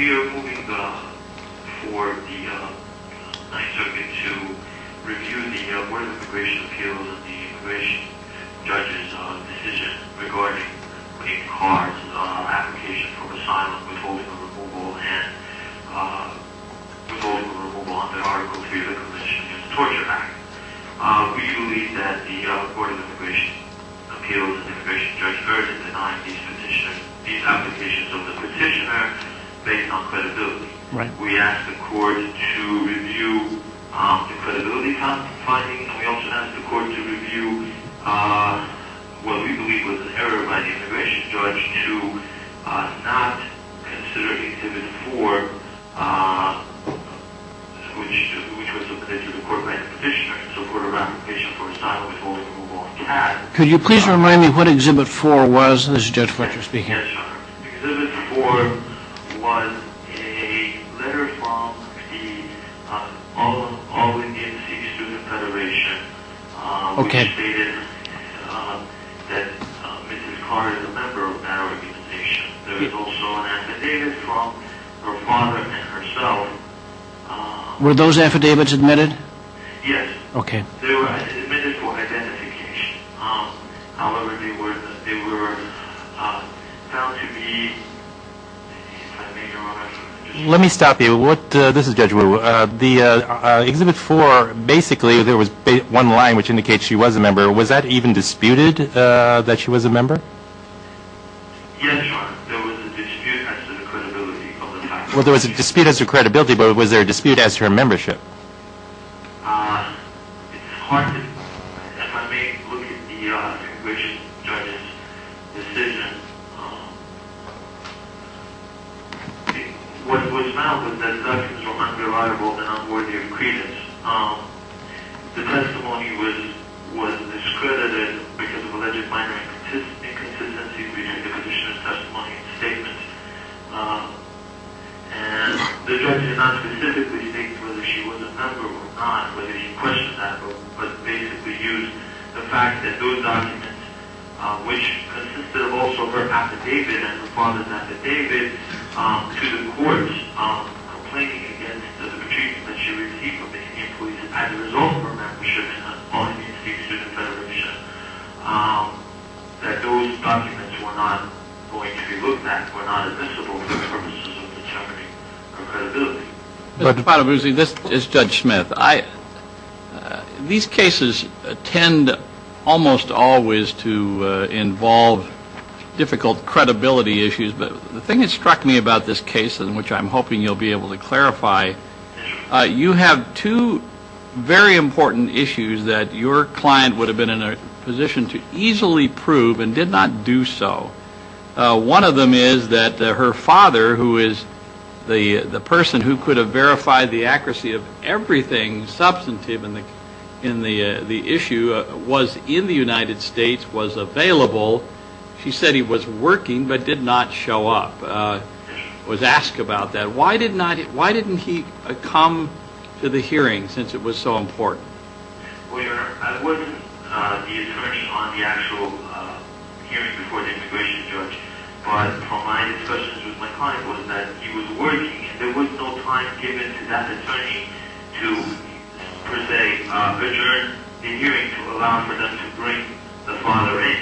We are moving for the 9th Circuit to review the Board of Immigration Appeals of the Immigration Judges decision regarding a Kaur's application for asylum withholding a removal and withholding a removal under Article 3 of the Commission's Torture Act. We believe that the Board of Immigration Appeals of the Immigration Judge urgently denied these applications of the petitioner based on credibility. We ask the Court to review the credibility findings. We also ask the Court to review what we believe was an error by the Immigration Judge in regards to not considering Exhibit 4, which was submitted to the Court by the petitioner. So the Court of Application for Asylum Withholding a Removal Act Could you please remind me what Exhibit 4 was? Exhibit 4 was a letter from the All Indian City Student Federation which stated that Mrs. Kaur is a member of that organization. There was also an affidavit from her father and herself. Were those affidavits admitted? Yes. They were admitted for identification. However, they were found to be... Let me stop you. This is Judge Wu. The Exhibit 4, basically, there was one line which indicates she was a member. Was that even disputed, that she was a member? Yes, Your Honor. There was a dispute as to the credibility of the fact... Well, there was a dispute as to credibility, but was there a dispute as to her membership? It's hard to... If I may look at the Judge's decision, what was found was that the documents were unreliable and unworthy of credence. The testimony was discredited because of alleged minor inconsistencies between the petitioner's testimony and statements. And the Judge did not specifically state whether she was a member or not, whether she questioned that, but basically used the fact that those documents, which consisted of also her affidavit and her father's affidavit, to the courts complaining against the petition that she received from the Indian Police as a result of her membership in the All Indian City Student Federation, that those documents were not, if you look at them, were not admissible for the purposes of the jeopardy of credibility. Mr. Patabusi, this is Judge Smith. These cases tend almost always to involve difficult credibility issues, but the thing that struck me about this case, and which I'm hoping you'll be able to clarify, you have two very important issues that your client would have been in a position to easily prove and did not do so. One of them is that her father, who is the person who could have verified the accuracy of everything substantive in the issue, was in the United States, was available. She said he was working, but did not show up, was asked about that. Why didn't he come to the hearing, since it was so important? Well, Your Honor, I wasn't the attorney on the actual hearing before the integration, Judge, but from my discussions with my client, was that he was working, and there was no time given to that attorney to, per se, return the hearing, to allow for them to bring the father in.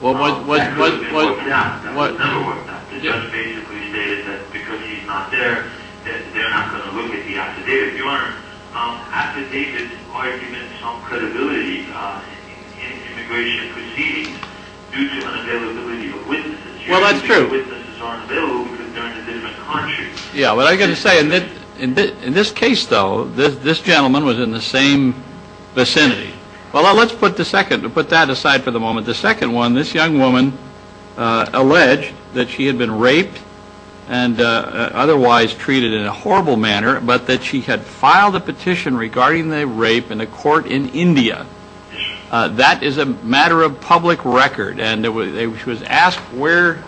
That was never worked out. The judge basically stated that because he's not there, that they're not going to look at the affidavit, Your Honor. Affidavit arguments on credibility in immigration proceedings due to unavailability of witnesses. Well, that's true. Witnesses aren't available because they're in a different country. Yeah, but I've got to say, in this case, though, this gentleman was in the same vicinity. Well, let's put that aside for the moment. The second one, this young woman alleged that she had been raped and otherwise treated in a horrible manner, but that she had filed a petition regarding the rape in a court in India. That is a matter of public record. And she was asked where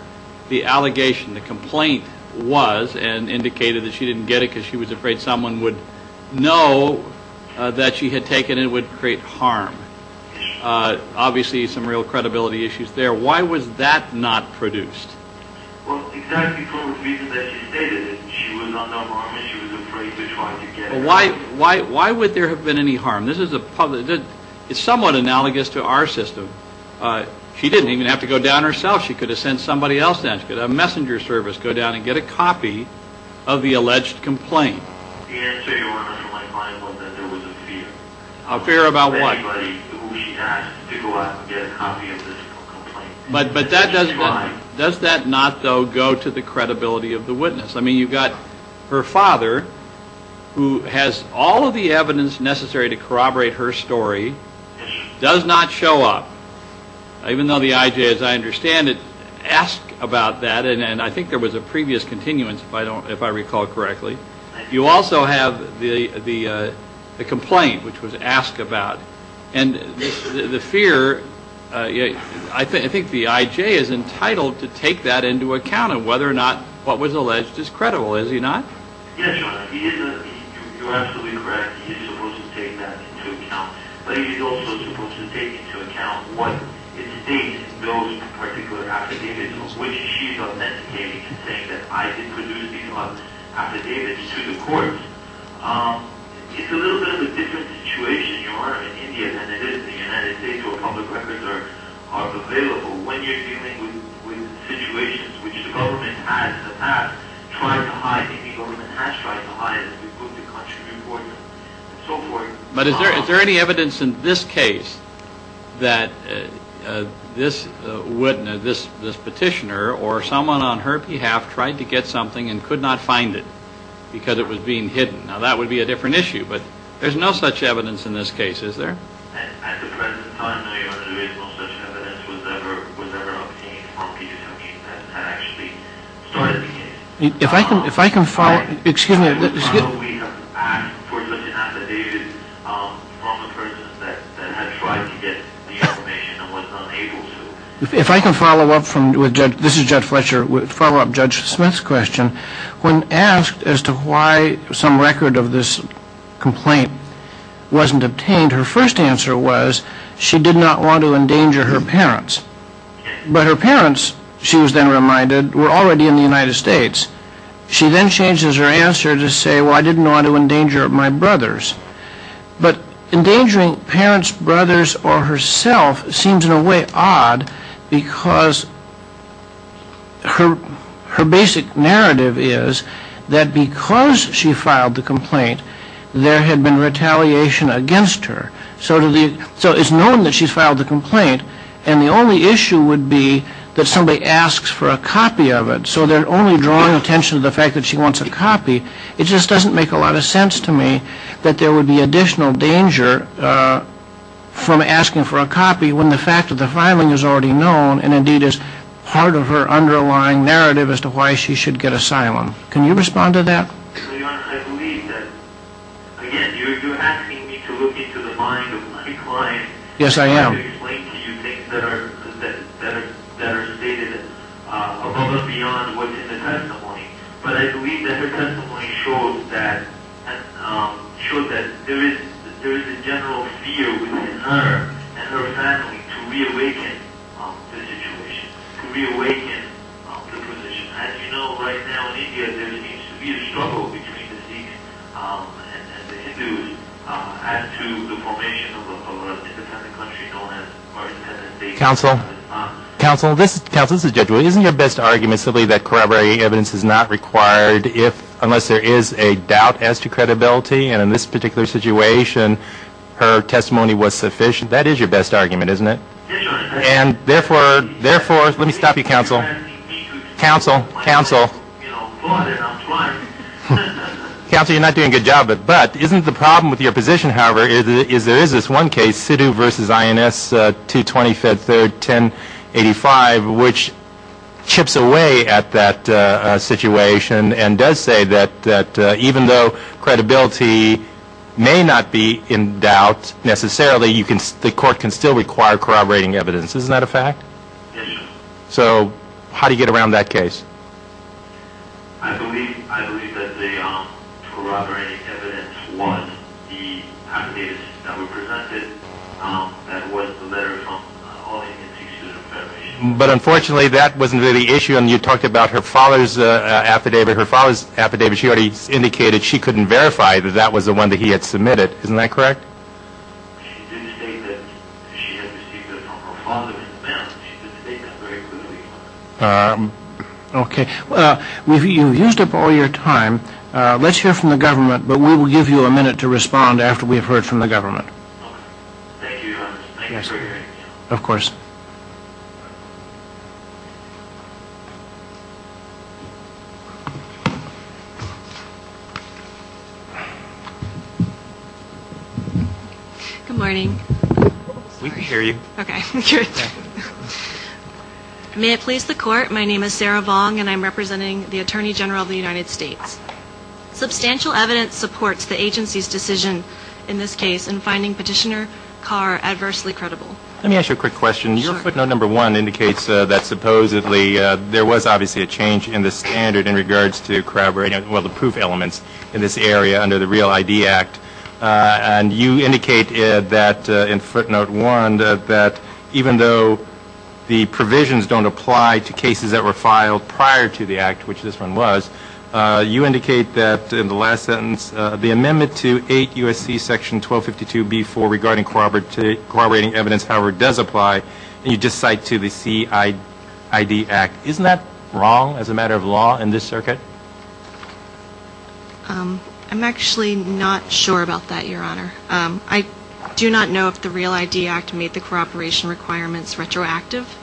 the allegation, the complaint was, and indicated that she didn't get it because she was afraid someone would know that she had taken it and it would create harm. Obviously, some real credibility issues there. Why was that not produced? Well, exactly for the reason that she stated it. She was afraid to try to get it. Why would there have been any harm? This is somewhat analogous to our system. She didn't even have to go down herself. She could have sent somebody else down. She could have had a messenger service go down and get a copy of the alleged complaint. The answer, Your Honor, to my client was that there was a fear. A fear about what? Anybody who she had to go out and get a copy of this complaint. But does that not, though, go to the credibility of the witness? I mean, you've got her father, who has all of the evidence necessary to corroborate her story, does not show up, even though the IJ, as I understand it, asked about that. And I think there was a previous continuance, if I recall correctly. You also have the complaint, which was asked about. And the fear, I think the IJ is entitled to take that into account of whether or not what was alleged is credible. Is he not? Yes, Your Honor. You're absolutely correct. He is supposed to take that into account. But he is also supposed to take into account what it states goes to particular affidavits, which she is not meant to take into consideration that I did produce these affidavits to the court. It's a little bit of a different situation, Your Honor, in India than it is in the United States, where public records are available, when you're dealing with situations which the government has in the past tried to hide, and the government has tried to hide, as we put the country before you, and so forth. But is there any evidence in this case that this petitioner or someone on her behalf tried to get something and could not find it because it was being hidden? Now, that would be a different issue. But there's no such evidence in this case, is there? At the present time, Your Honor, there is no such evidence. Was there ever a plea for peace that actually started the case? If I can follow up, this is Judge Fletcher, follow up Judge Smith's question. When asked as to why some record of this complaint wasn't obtained, her first answer was she did not want to endanger her parents. But her parents, she was then reminded, were already in the United States. She then changes her answer to say, well, I didn't want to endanger my brothers. But endangering parents, brothers, or herself seems in a way odd, because her basic narrative is that because she filed the complaint, there had been retaliation against her. So it's known that she filed the complaint, and the only issue would be that somebody asks for a copy of it. So they're only drawing attention to the fact that she wants a copy. It just doesn't make a lot of sense to me that there would be additional danger from asking for a copy when the fact of the filing is already known and indeed is part of her underlying narrative as to why she should get asylum. Can you respond to that? Your Honor, I believe that, again, you're asking me to look into the mind of my client. Yes, I am. To explain to you things that are stated above and beyond what's in the testimony. But I believe that her testimony shows that there is a general fear within her and her family to reawaken the situation, to reawaken the position. As you know, right now in India, there seems to be a struggle between the Sikhs and the Hindus as to the formation of a world independent country known as the United States. Counsel, counsel, this is judgment. Isn't your best argument simply that corroborating evidence is not required unless there is a doubt as to credibility? And in this particular situation, her testimony was sufficient. That is your best argument, isn't it? Yes, Your Honor. And therefore, let me stop you, counsel. Counsel. Counsel. Counsel. Counsel, you're not doing a good job. But isn't the problem with your position, however, is there is this one case, Sidhu v. INS 225, 1085, which chips away at that situation and does say that even though credibility may not be in doubt necessarily, the court can still require corroborating evidence. Isn't that a fact? Yes, Your Honor. So how do you get around that case? I believe that the corroborating evidence was the affidavits that were presented. That was the letter from the All-Indian Sikh Student Federation. But unfortunately, that wasn't really the issue. And you talked about her father's affidavit. Her father's affidavit, she already indicated she couldn't verify that that was the one that he had submitted. Isn't that correct? She did state that she had received it from her father in advance. She did state that very clearly. Okay. Well, you've used up all your time. Let's hear from the government, but we will give you a minute to respond after we have heard from the government. Thank you, Your Honor. Thank you for your hearing. Of course. Good morning. We can hear you. Okay, good. May it please the Court, my name is Sarah Vong, and I'm representing the Attorney General of the United States. Substantial evidence supports the agency's decision in this case in finding Petitioner Carr adversely credible. Let me ask you a quick question. Your footnote number one indicates that supposedly there was obviously a change in the standard in regards to corroborating, well, the proof elements in this area under the Real ID Act. And you indicated that in footnote one that even though the provisions don't apply to cases that were filed prior to the Act, which this one was, you indicate that in the last sentence, the amendment to 8 U.S.C. Section 1252b-4 regarding corroborating evidence, however it does apply, you just cite to the CID Act. Isn't that wrong as a matter of law in this circuit? I'm actually not sure about that, Your Honor. I do not know if the Real ID Act made the corroboration requirements retroactive.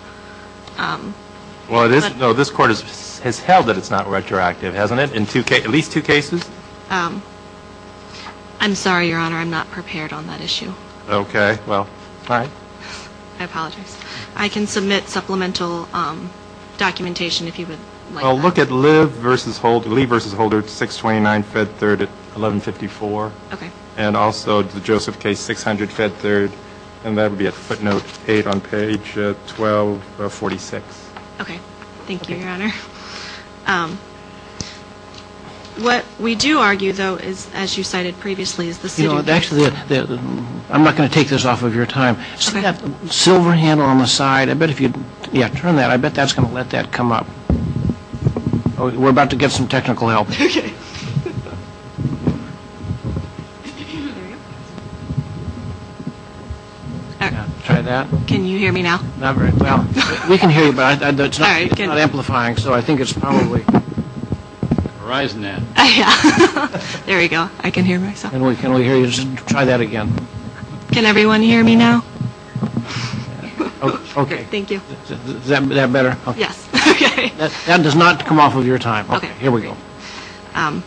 Well, this Court has held that it's not retroactive, hasn't it, in at least two cases? I'm sorry, Your Honor, I'm not prepared on that issue. Okay, well, fine. I apologize. I can submit supplemental documentation if you would like that. Well, look at Lee v. Holder, 629 Fed 3rd at 1154. Okay. And also the Joseph K. 600 Fed 3rd, and that would be at footnote 8 on page 1246. Okay. Thank you, Your Honor. What we do argue, though, is, as you cited previously, is the CID Act. Actually, I'm not going to take this off of your time. See that silver handle on the side? Yeah, turn that. I bet that's going to let that come up. We're about to get some technical help. Okay. Try that. Can you hear me now? Not very well. We can hear you, but it's not amplifying, so I think it's probably... Horizon net. Yeah. There we go. I can hear myself. Can we hear you? Try that again. Can everyone hear me now? Okay. Thank you. Is that better? Yes. Okay. That does not come off of your time. Okay. Here we go. I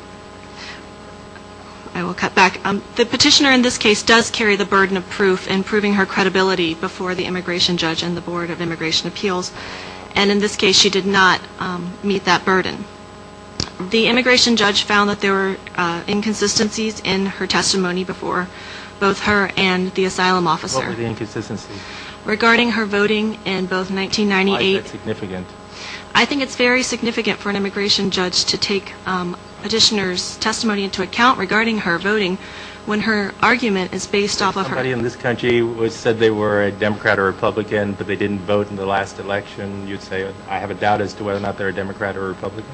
will cut back. The petitioner in this case does carry the burden of proof in proving her credibility before the immigration judge and the Board of Immigration Appeals, and in this case she did not meet that burden. The immigration judge found that there were inconsistencies in her testimony before, both her and the asylum officer. What were the inconsistencies? Regarding her voting in both 1998... Why is that significant? I think it's very significant for an immigration judge to take a petitioner's testimony into account regarding her voting when her argument is based off of her... If somebody in this country said they were a Democrat or Republican, but they didn't vote in the last election, you'd say I have a doubt as to whether or not they're a Democrat or a Republican?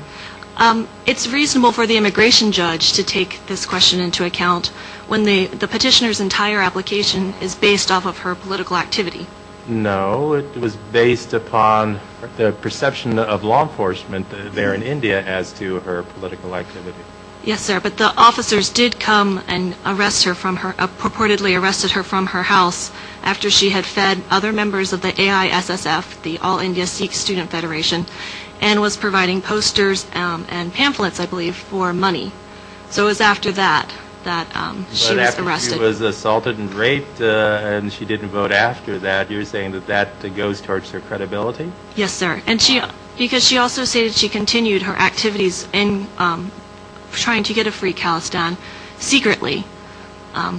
It's reasonable for the immigration judge to take this question into account when the petitioner's entire application is based off of her political activity. No, it was based upon the perception of law enforcement there in India as to her political activity. Yes, sir, but the officers did come and arrest her from her... purportedly arrested her from her house after she had fed other members of the AISSF, the All India Sikh Student Federation, and was providing posters and pamphlets, I believe, for money. So it was after that that she was arrested. But after she was assaulted and raped and she didn't vote after that, you're saying that that goes towards her credibility? Yes, sir, because she also stated she continued her activities in trying to get a free calisthene secretly.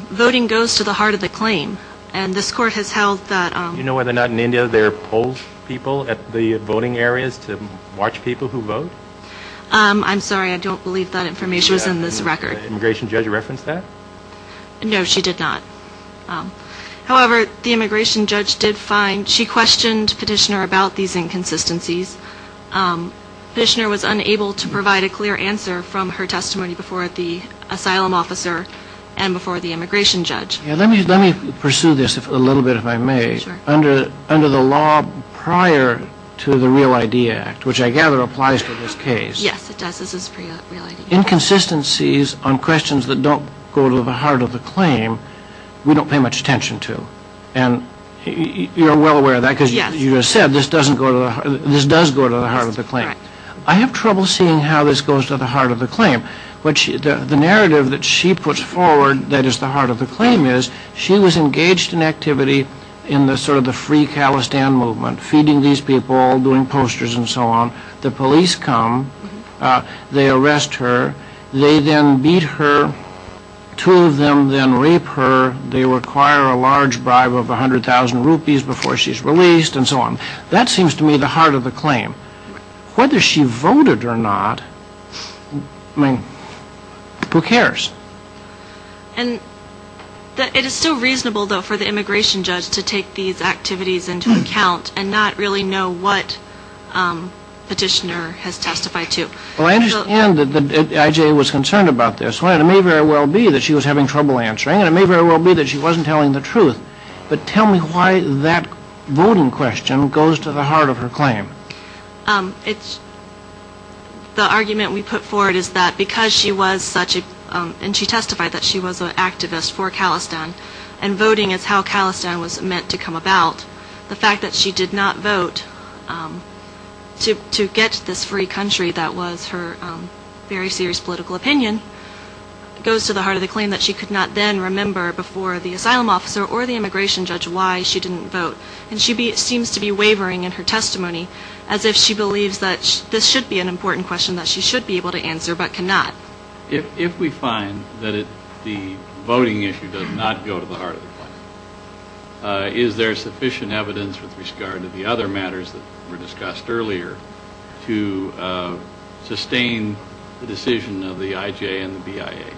Voting goes to the heart of the claim, and this court has held that... Do you know whether or not in India there are poll people at the voting areas to watch people who vote? I'm sorry, I don't believe that information is in this record. Did the immigration judge reference that? No, she did not. However, the immigration judge did find she questioned petitioner about these inconsistencies. Petitioner was unable to provide a clear answer from her testimony before the asylum officer and before the immigration judge. Let me pursue this a little bit, if I may. Under the law prior to the Real ID Act, which I gather applies to this case... Yes, it does. Inconsistencies on questions that don't go to the heart of the claim we don't pay much attention to. And you're well aware of that because you just said this does go to the heart of the claim. I have trouble seeing how this goes to the heart of the claim. The narrative that she puts forward that is the heart of the claim is she was engaged in activity in sort of the Free Khalistan Movement, feeding these people, doing posters, and so on. The police come, they arrest her, they then beat her, two of them then rape her, they require a large bribe of 100,000 rupees before she's released, and so on. That seems to me the heart of the claim. Whether she voted or not, I mean, who cares? And it is still reasonable, though, for the immigration judge to take these activities into account and not really know what petitioner has testified to. Well, I understand that I.J. was concerned about this. It may very well be that she was having trouble answering, and it may very well be that she wasn't telling the truth. But tell me why that voting question goes to the heart of her claim. The argument we put forward is that because she was such a, and she testified that she was an activist for Khalistan, and voting is how Khalistan was meant to come about, the fact that she did not vote to get this free country that was her very serious political opinion goes to the heart of the claim that she could not then remember before the asylum officer or the immigration judge why she didn't vote. And she seems to be wavering in her testimony as if she believes that this should be an important question that she should be able to answer but cannot. If we find that the voting issue does not go to the heart of the claim, is there sufficient evidence with regard to the other matters that were discussed earlier to sustain the decision of the I.J. and the BIA?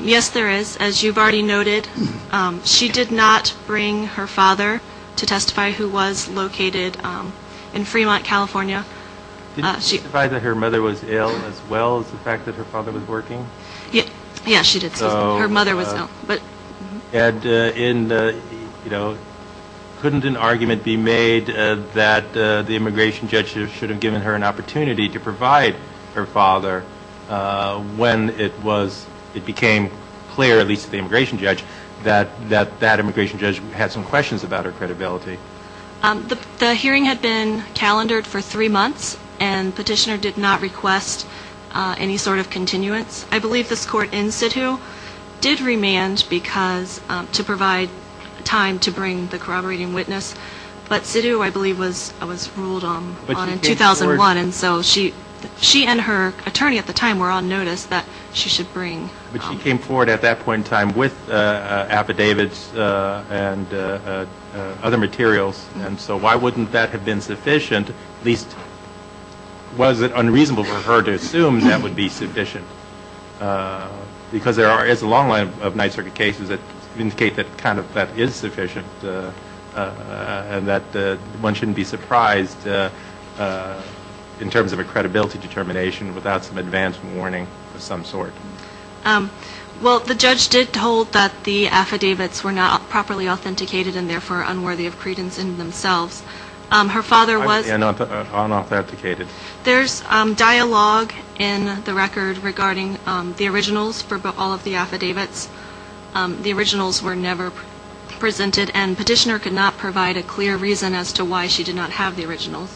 Yes, there is. As you've already noted, she did not bring her father to testify, who was located in Fremont, California. Did she testify that her mother was ill as well as the fact that her father was working? Yes, she did. Her mother was ill. Couldn't an argument be made that the immigration judge should have given her an opportunity to provide her father when it became clear, at least to the immigration judge, that that immigration judge had some questions about her credibility? The hearing had been calendared for three months and the petitioner did not request any sort of continuance. I believe this court in situ did remand to provide time to bring the corroborating witness, but situ, I believe, was ruled on in 2001, and so she and her attorney at the time were on notice that she should bring. But she came forward at that point in time with affidavits and other materials, and so why wouldn't that have been sufficient, at least was it unreasonable for her to assume that would be sufficient? Because there is a long line of Ninth Circuit cases that indicate that kind of that is sufficient and that one shouldn't be surprised in terms of a credibility determination without some advance warning of some sort. Well, the judge did hold that the affidavits were not properly authenticated and therefore unworthy of credence in themselves. Her father was unauthenticated. There's dialogue in the record regarding the originals for all of the affidavits. The originals were never presented and the petitioner could not provide a clear reason as to why she did not have the originals.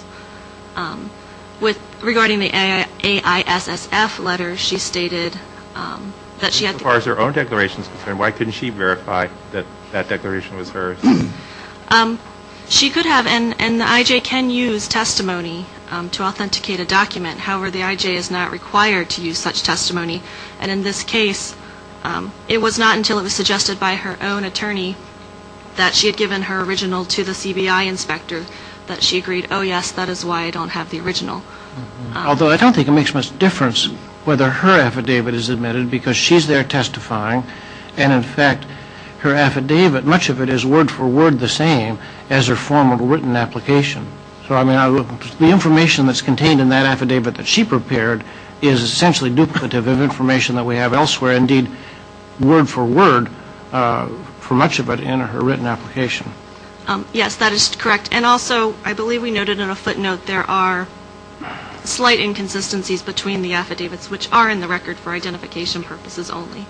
Regarding the AISSF letter, she stated that she had to... As far as her own declaration is concerned, why couldn't she verify that that declaration was hers? She could have and the I.J. can use testimony to authenticate a document. However, the I.J. is not required to use such testimony and in this case it was not until it was suggested by her own attorney that she had given her original to the CBI inspector that she agreed, oh yes, that is why I don't have the original. Although I don't think it makes much difference whether her affidavit is admitted because she's there testifying and in fact her affidavit, much of it is word for word the same as her formal written application. So I mean the information that's contained in that affidavit that she prepared is essentially duplicative of information that we have elsewhere and indeed word for word for much of it in her written application. Yes, that is correct and also I believe we noted in a footnote there are slight inconsistencies between the affidavits which are in the record for identification purposes only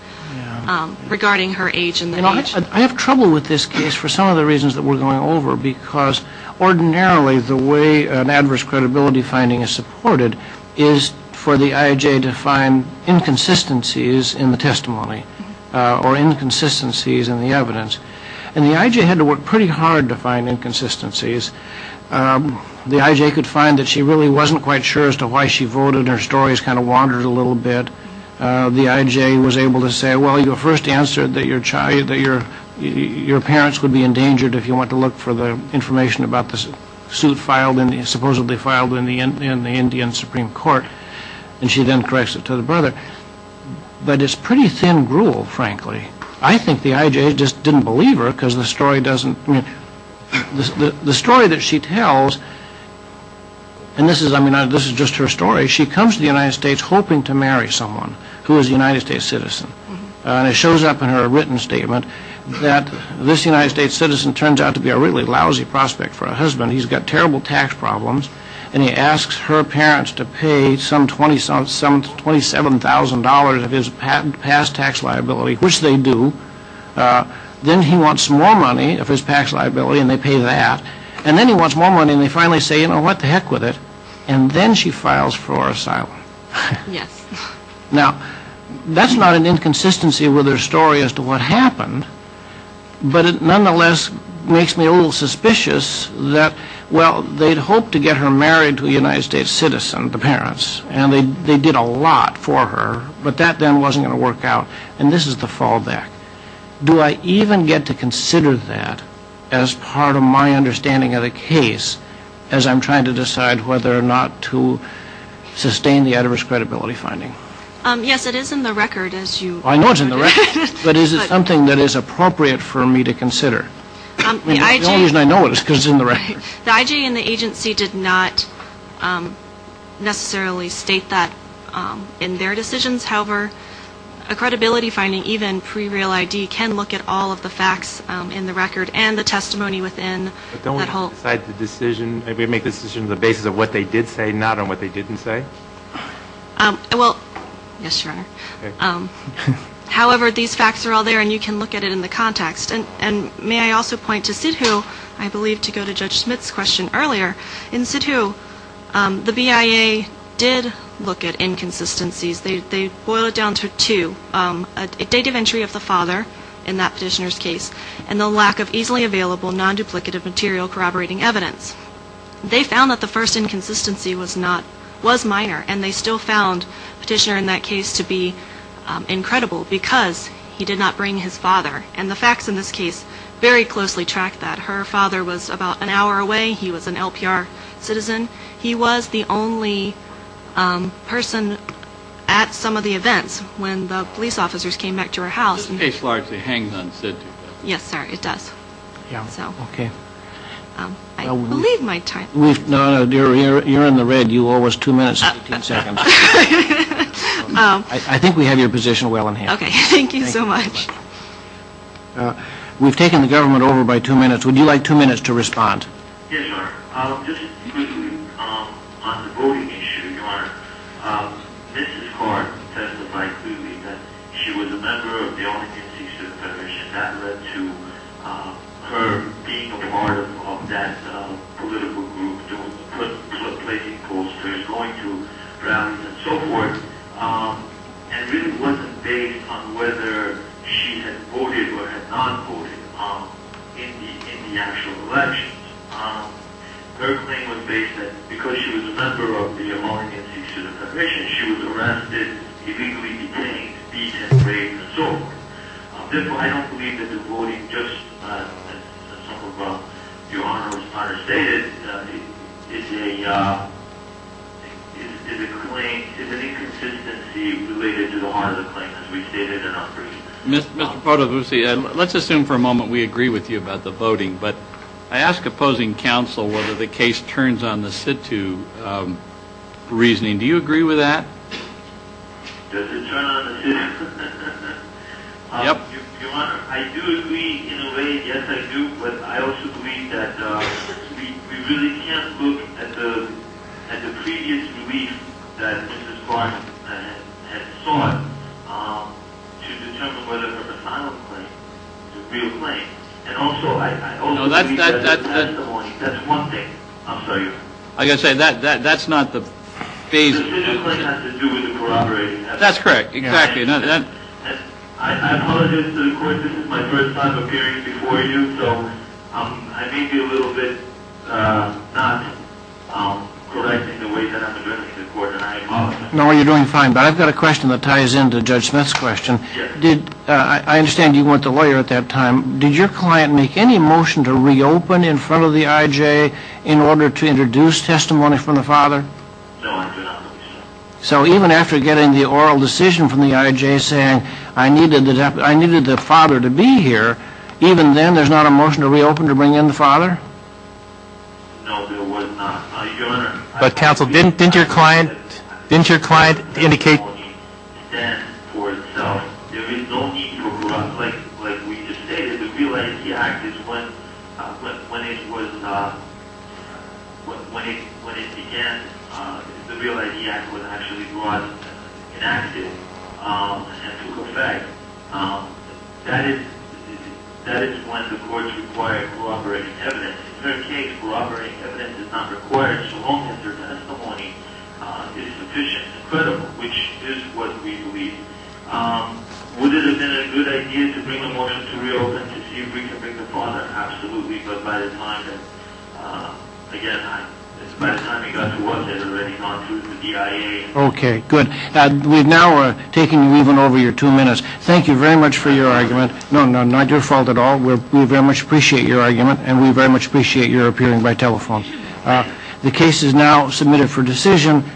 regarding her age and their age. I have trouble with this case for some of the reasons that we're going over because ordinarily the way an adverse credibility finding is supported is for the I.J. to find inconsistencies in the testimony or inconsistencies in the evidence and the I.J. had to work pretty hard to find inconsistencies. The I.J. could find that she really wasn't quite sure as to why she voted, her stories kind of wandered a little bit. The I.J. was able to say, well you first answered that your parents would be endangered if you want to look for the information about the suit filed, supposedly filed in the Indian Supreme Court and she then corrects it to the brother. But it's pretty thin gruel frankly. I think the I.J. just didn't believe her because the story doesn't, I mean the story that she tells and this is, I mean this is just her story, she comes to the United States hoping to marry someone who is a United States citizen and it shows up in her written statement that this United States citizen turns out to be a really lousy prospect for a husband. He's got terrible tax problems and he asks her parents to pay some $27,000 of his past tax liability, which they do. Then he wants more money of his past liability and they pay that and then he wants more money and they finally say, you know, what the heck with it. And then she files for asylum. Yes. Now that's not an inconsistency with her story as to what happened, but it nonetheless makes me a little suspicious that, well they'd hoped to get her married to a United States citizen, the parents, and they did a lot for her, but that then wasn't going to work out and this is the fallback. Do I even get to consider that as part of my understanding of the case as I'm trying to decide whether or not to sustain the adverse credibility finding? Yes, it is in the record as you noted. I know it's in the record, but is it something that is appropriate for me to consider? The only reason I know it is because it's in the record. The IG and the agency did not necessarily state that in their decisions. However, a credibility finding, even pre-real ID, can look at all of the facts in the record and the testimony within. But don't we decide the decision, maybe make the decision on the basis of what they did say not on what they didn't say? Well, yes, Your Honor. However, these facts are all there and you can look at it in the context. And may I also point to Sidhu, I believe, to go to Judge Smith's question earlier. In Sidhu, the BIA did look at inconsistencies. They boiled it down to two, a date of entry of the father in that petitioner's case and the lack of easily available non-duplicative material corroborating evidence. They found that the first inconsistency was minor and they still found the petitioner in that case to be incredible because he did not bring his father. And the facts in this case very closely track that. Her father was about an hour away. He was an LPR citizen. He was the only person at some of the events when the police officers came back to her house. This case largely hangs on Sidhu. Yes, sir, it does. I believe my time is up. No, no, dear, you're in the red. You owe us two minutes and 15 seconds. I think we have your position well in hand. Okay, thank you so much. We've taken the government over by two minutes. Would you like two minutes to respond? Yes, Your Honor. Just briefly on the voting issue, Your Honor, Mrs. Hart testified clearly that she was a member of the All-Against-Eastern Federation. That led to her being a part of that political group, to placing posters, going to rallies, and so forth, and really wasn't based on whether she had voted or had not voted in the actual elections. Her claim was based that because she was a member of the All-Against-Eastern Federation, she was arrested, illegally detained, beaten, raped, and assaulted. Therefore, I don't believe that the voting, just as Your Honor has stated, is an inconsistency related to the heart of the claim, as we stated in our brief. Mr. Potavuzi, let's assume for a moment we agree with you about the voting, but I ask opposing counsel whether the case turns on the situ reasoning. Do you agree with that? Does it turn on the situ? Yep. Your Honor, I do agree in a way. Yes, I do. But I also believe that we really can't look at the previous brief that Mrs. Hart had sought to determine whether it was a final claim, a real claim. And also, I also believe that testimony, that's one thing. I'm sorry, Your Honor. I've got to say, that's not the basis. It specifically has to do with corroboration. That's correct, exactly. I apologize to the Court, this is my first time appearing before you, so I may be a little bit not correct in the way that I'm addressing the Court, and I apologize. No, you're doing fine. But I've got a question that ties into Judge Smith's question. Yes. I understand you weren't the lawyer at that time. Did your client make any motion to reopen in front of the IJ in order to introduce testimony from the father? No, I did not make a motion. So even after getting the oral decision from the IJ saying, I needed the father to be here, even then there's not a motion to reopen to bring in the father? No, there was not, Your Honor. But, counsel, didn't your client indicate then for itself, there is no need for, like we just stated, the Real I.D. Act is when it began, the Real I.D. Act was actually brought in action and took effect. That is when the courts require corroborating evidence. In her case, corroborating evidence is not required. It is sufficient, credible, which is what we believe. Would it have been a good idea to bring a motion to reopen to see if we can bring the father? Absolutely. But by the time that, again, it's by the time it got to us, it had already gone through the DIA. Okay, good. We've now taken you even over your two minutes. Thank you very much for your argument. No, no, not your fault at all. We very much appreciate your argument, and we very much appreciate your appearing by telephone. The case is now submitted for decision.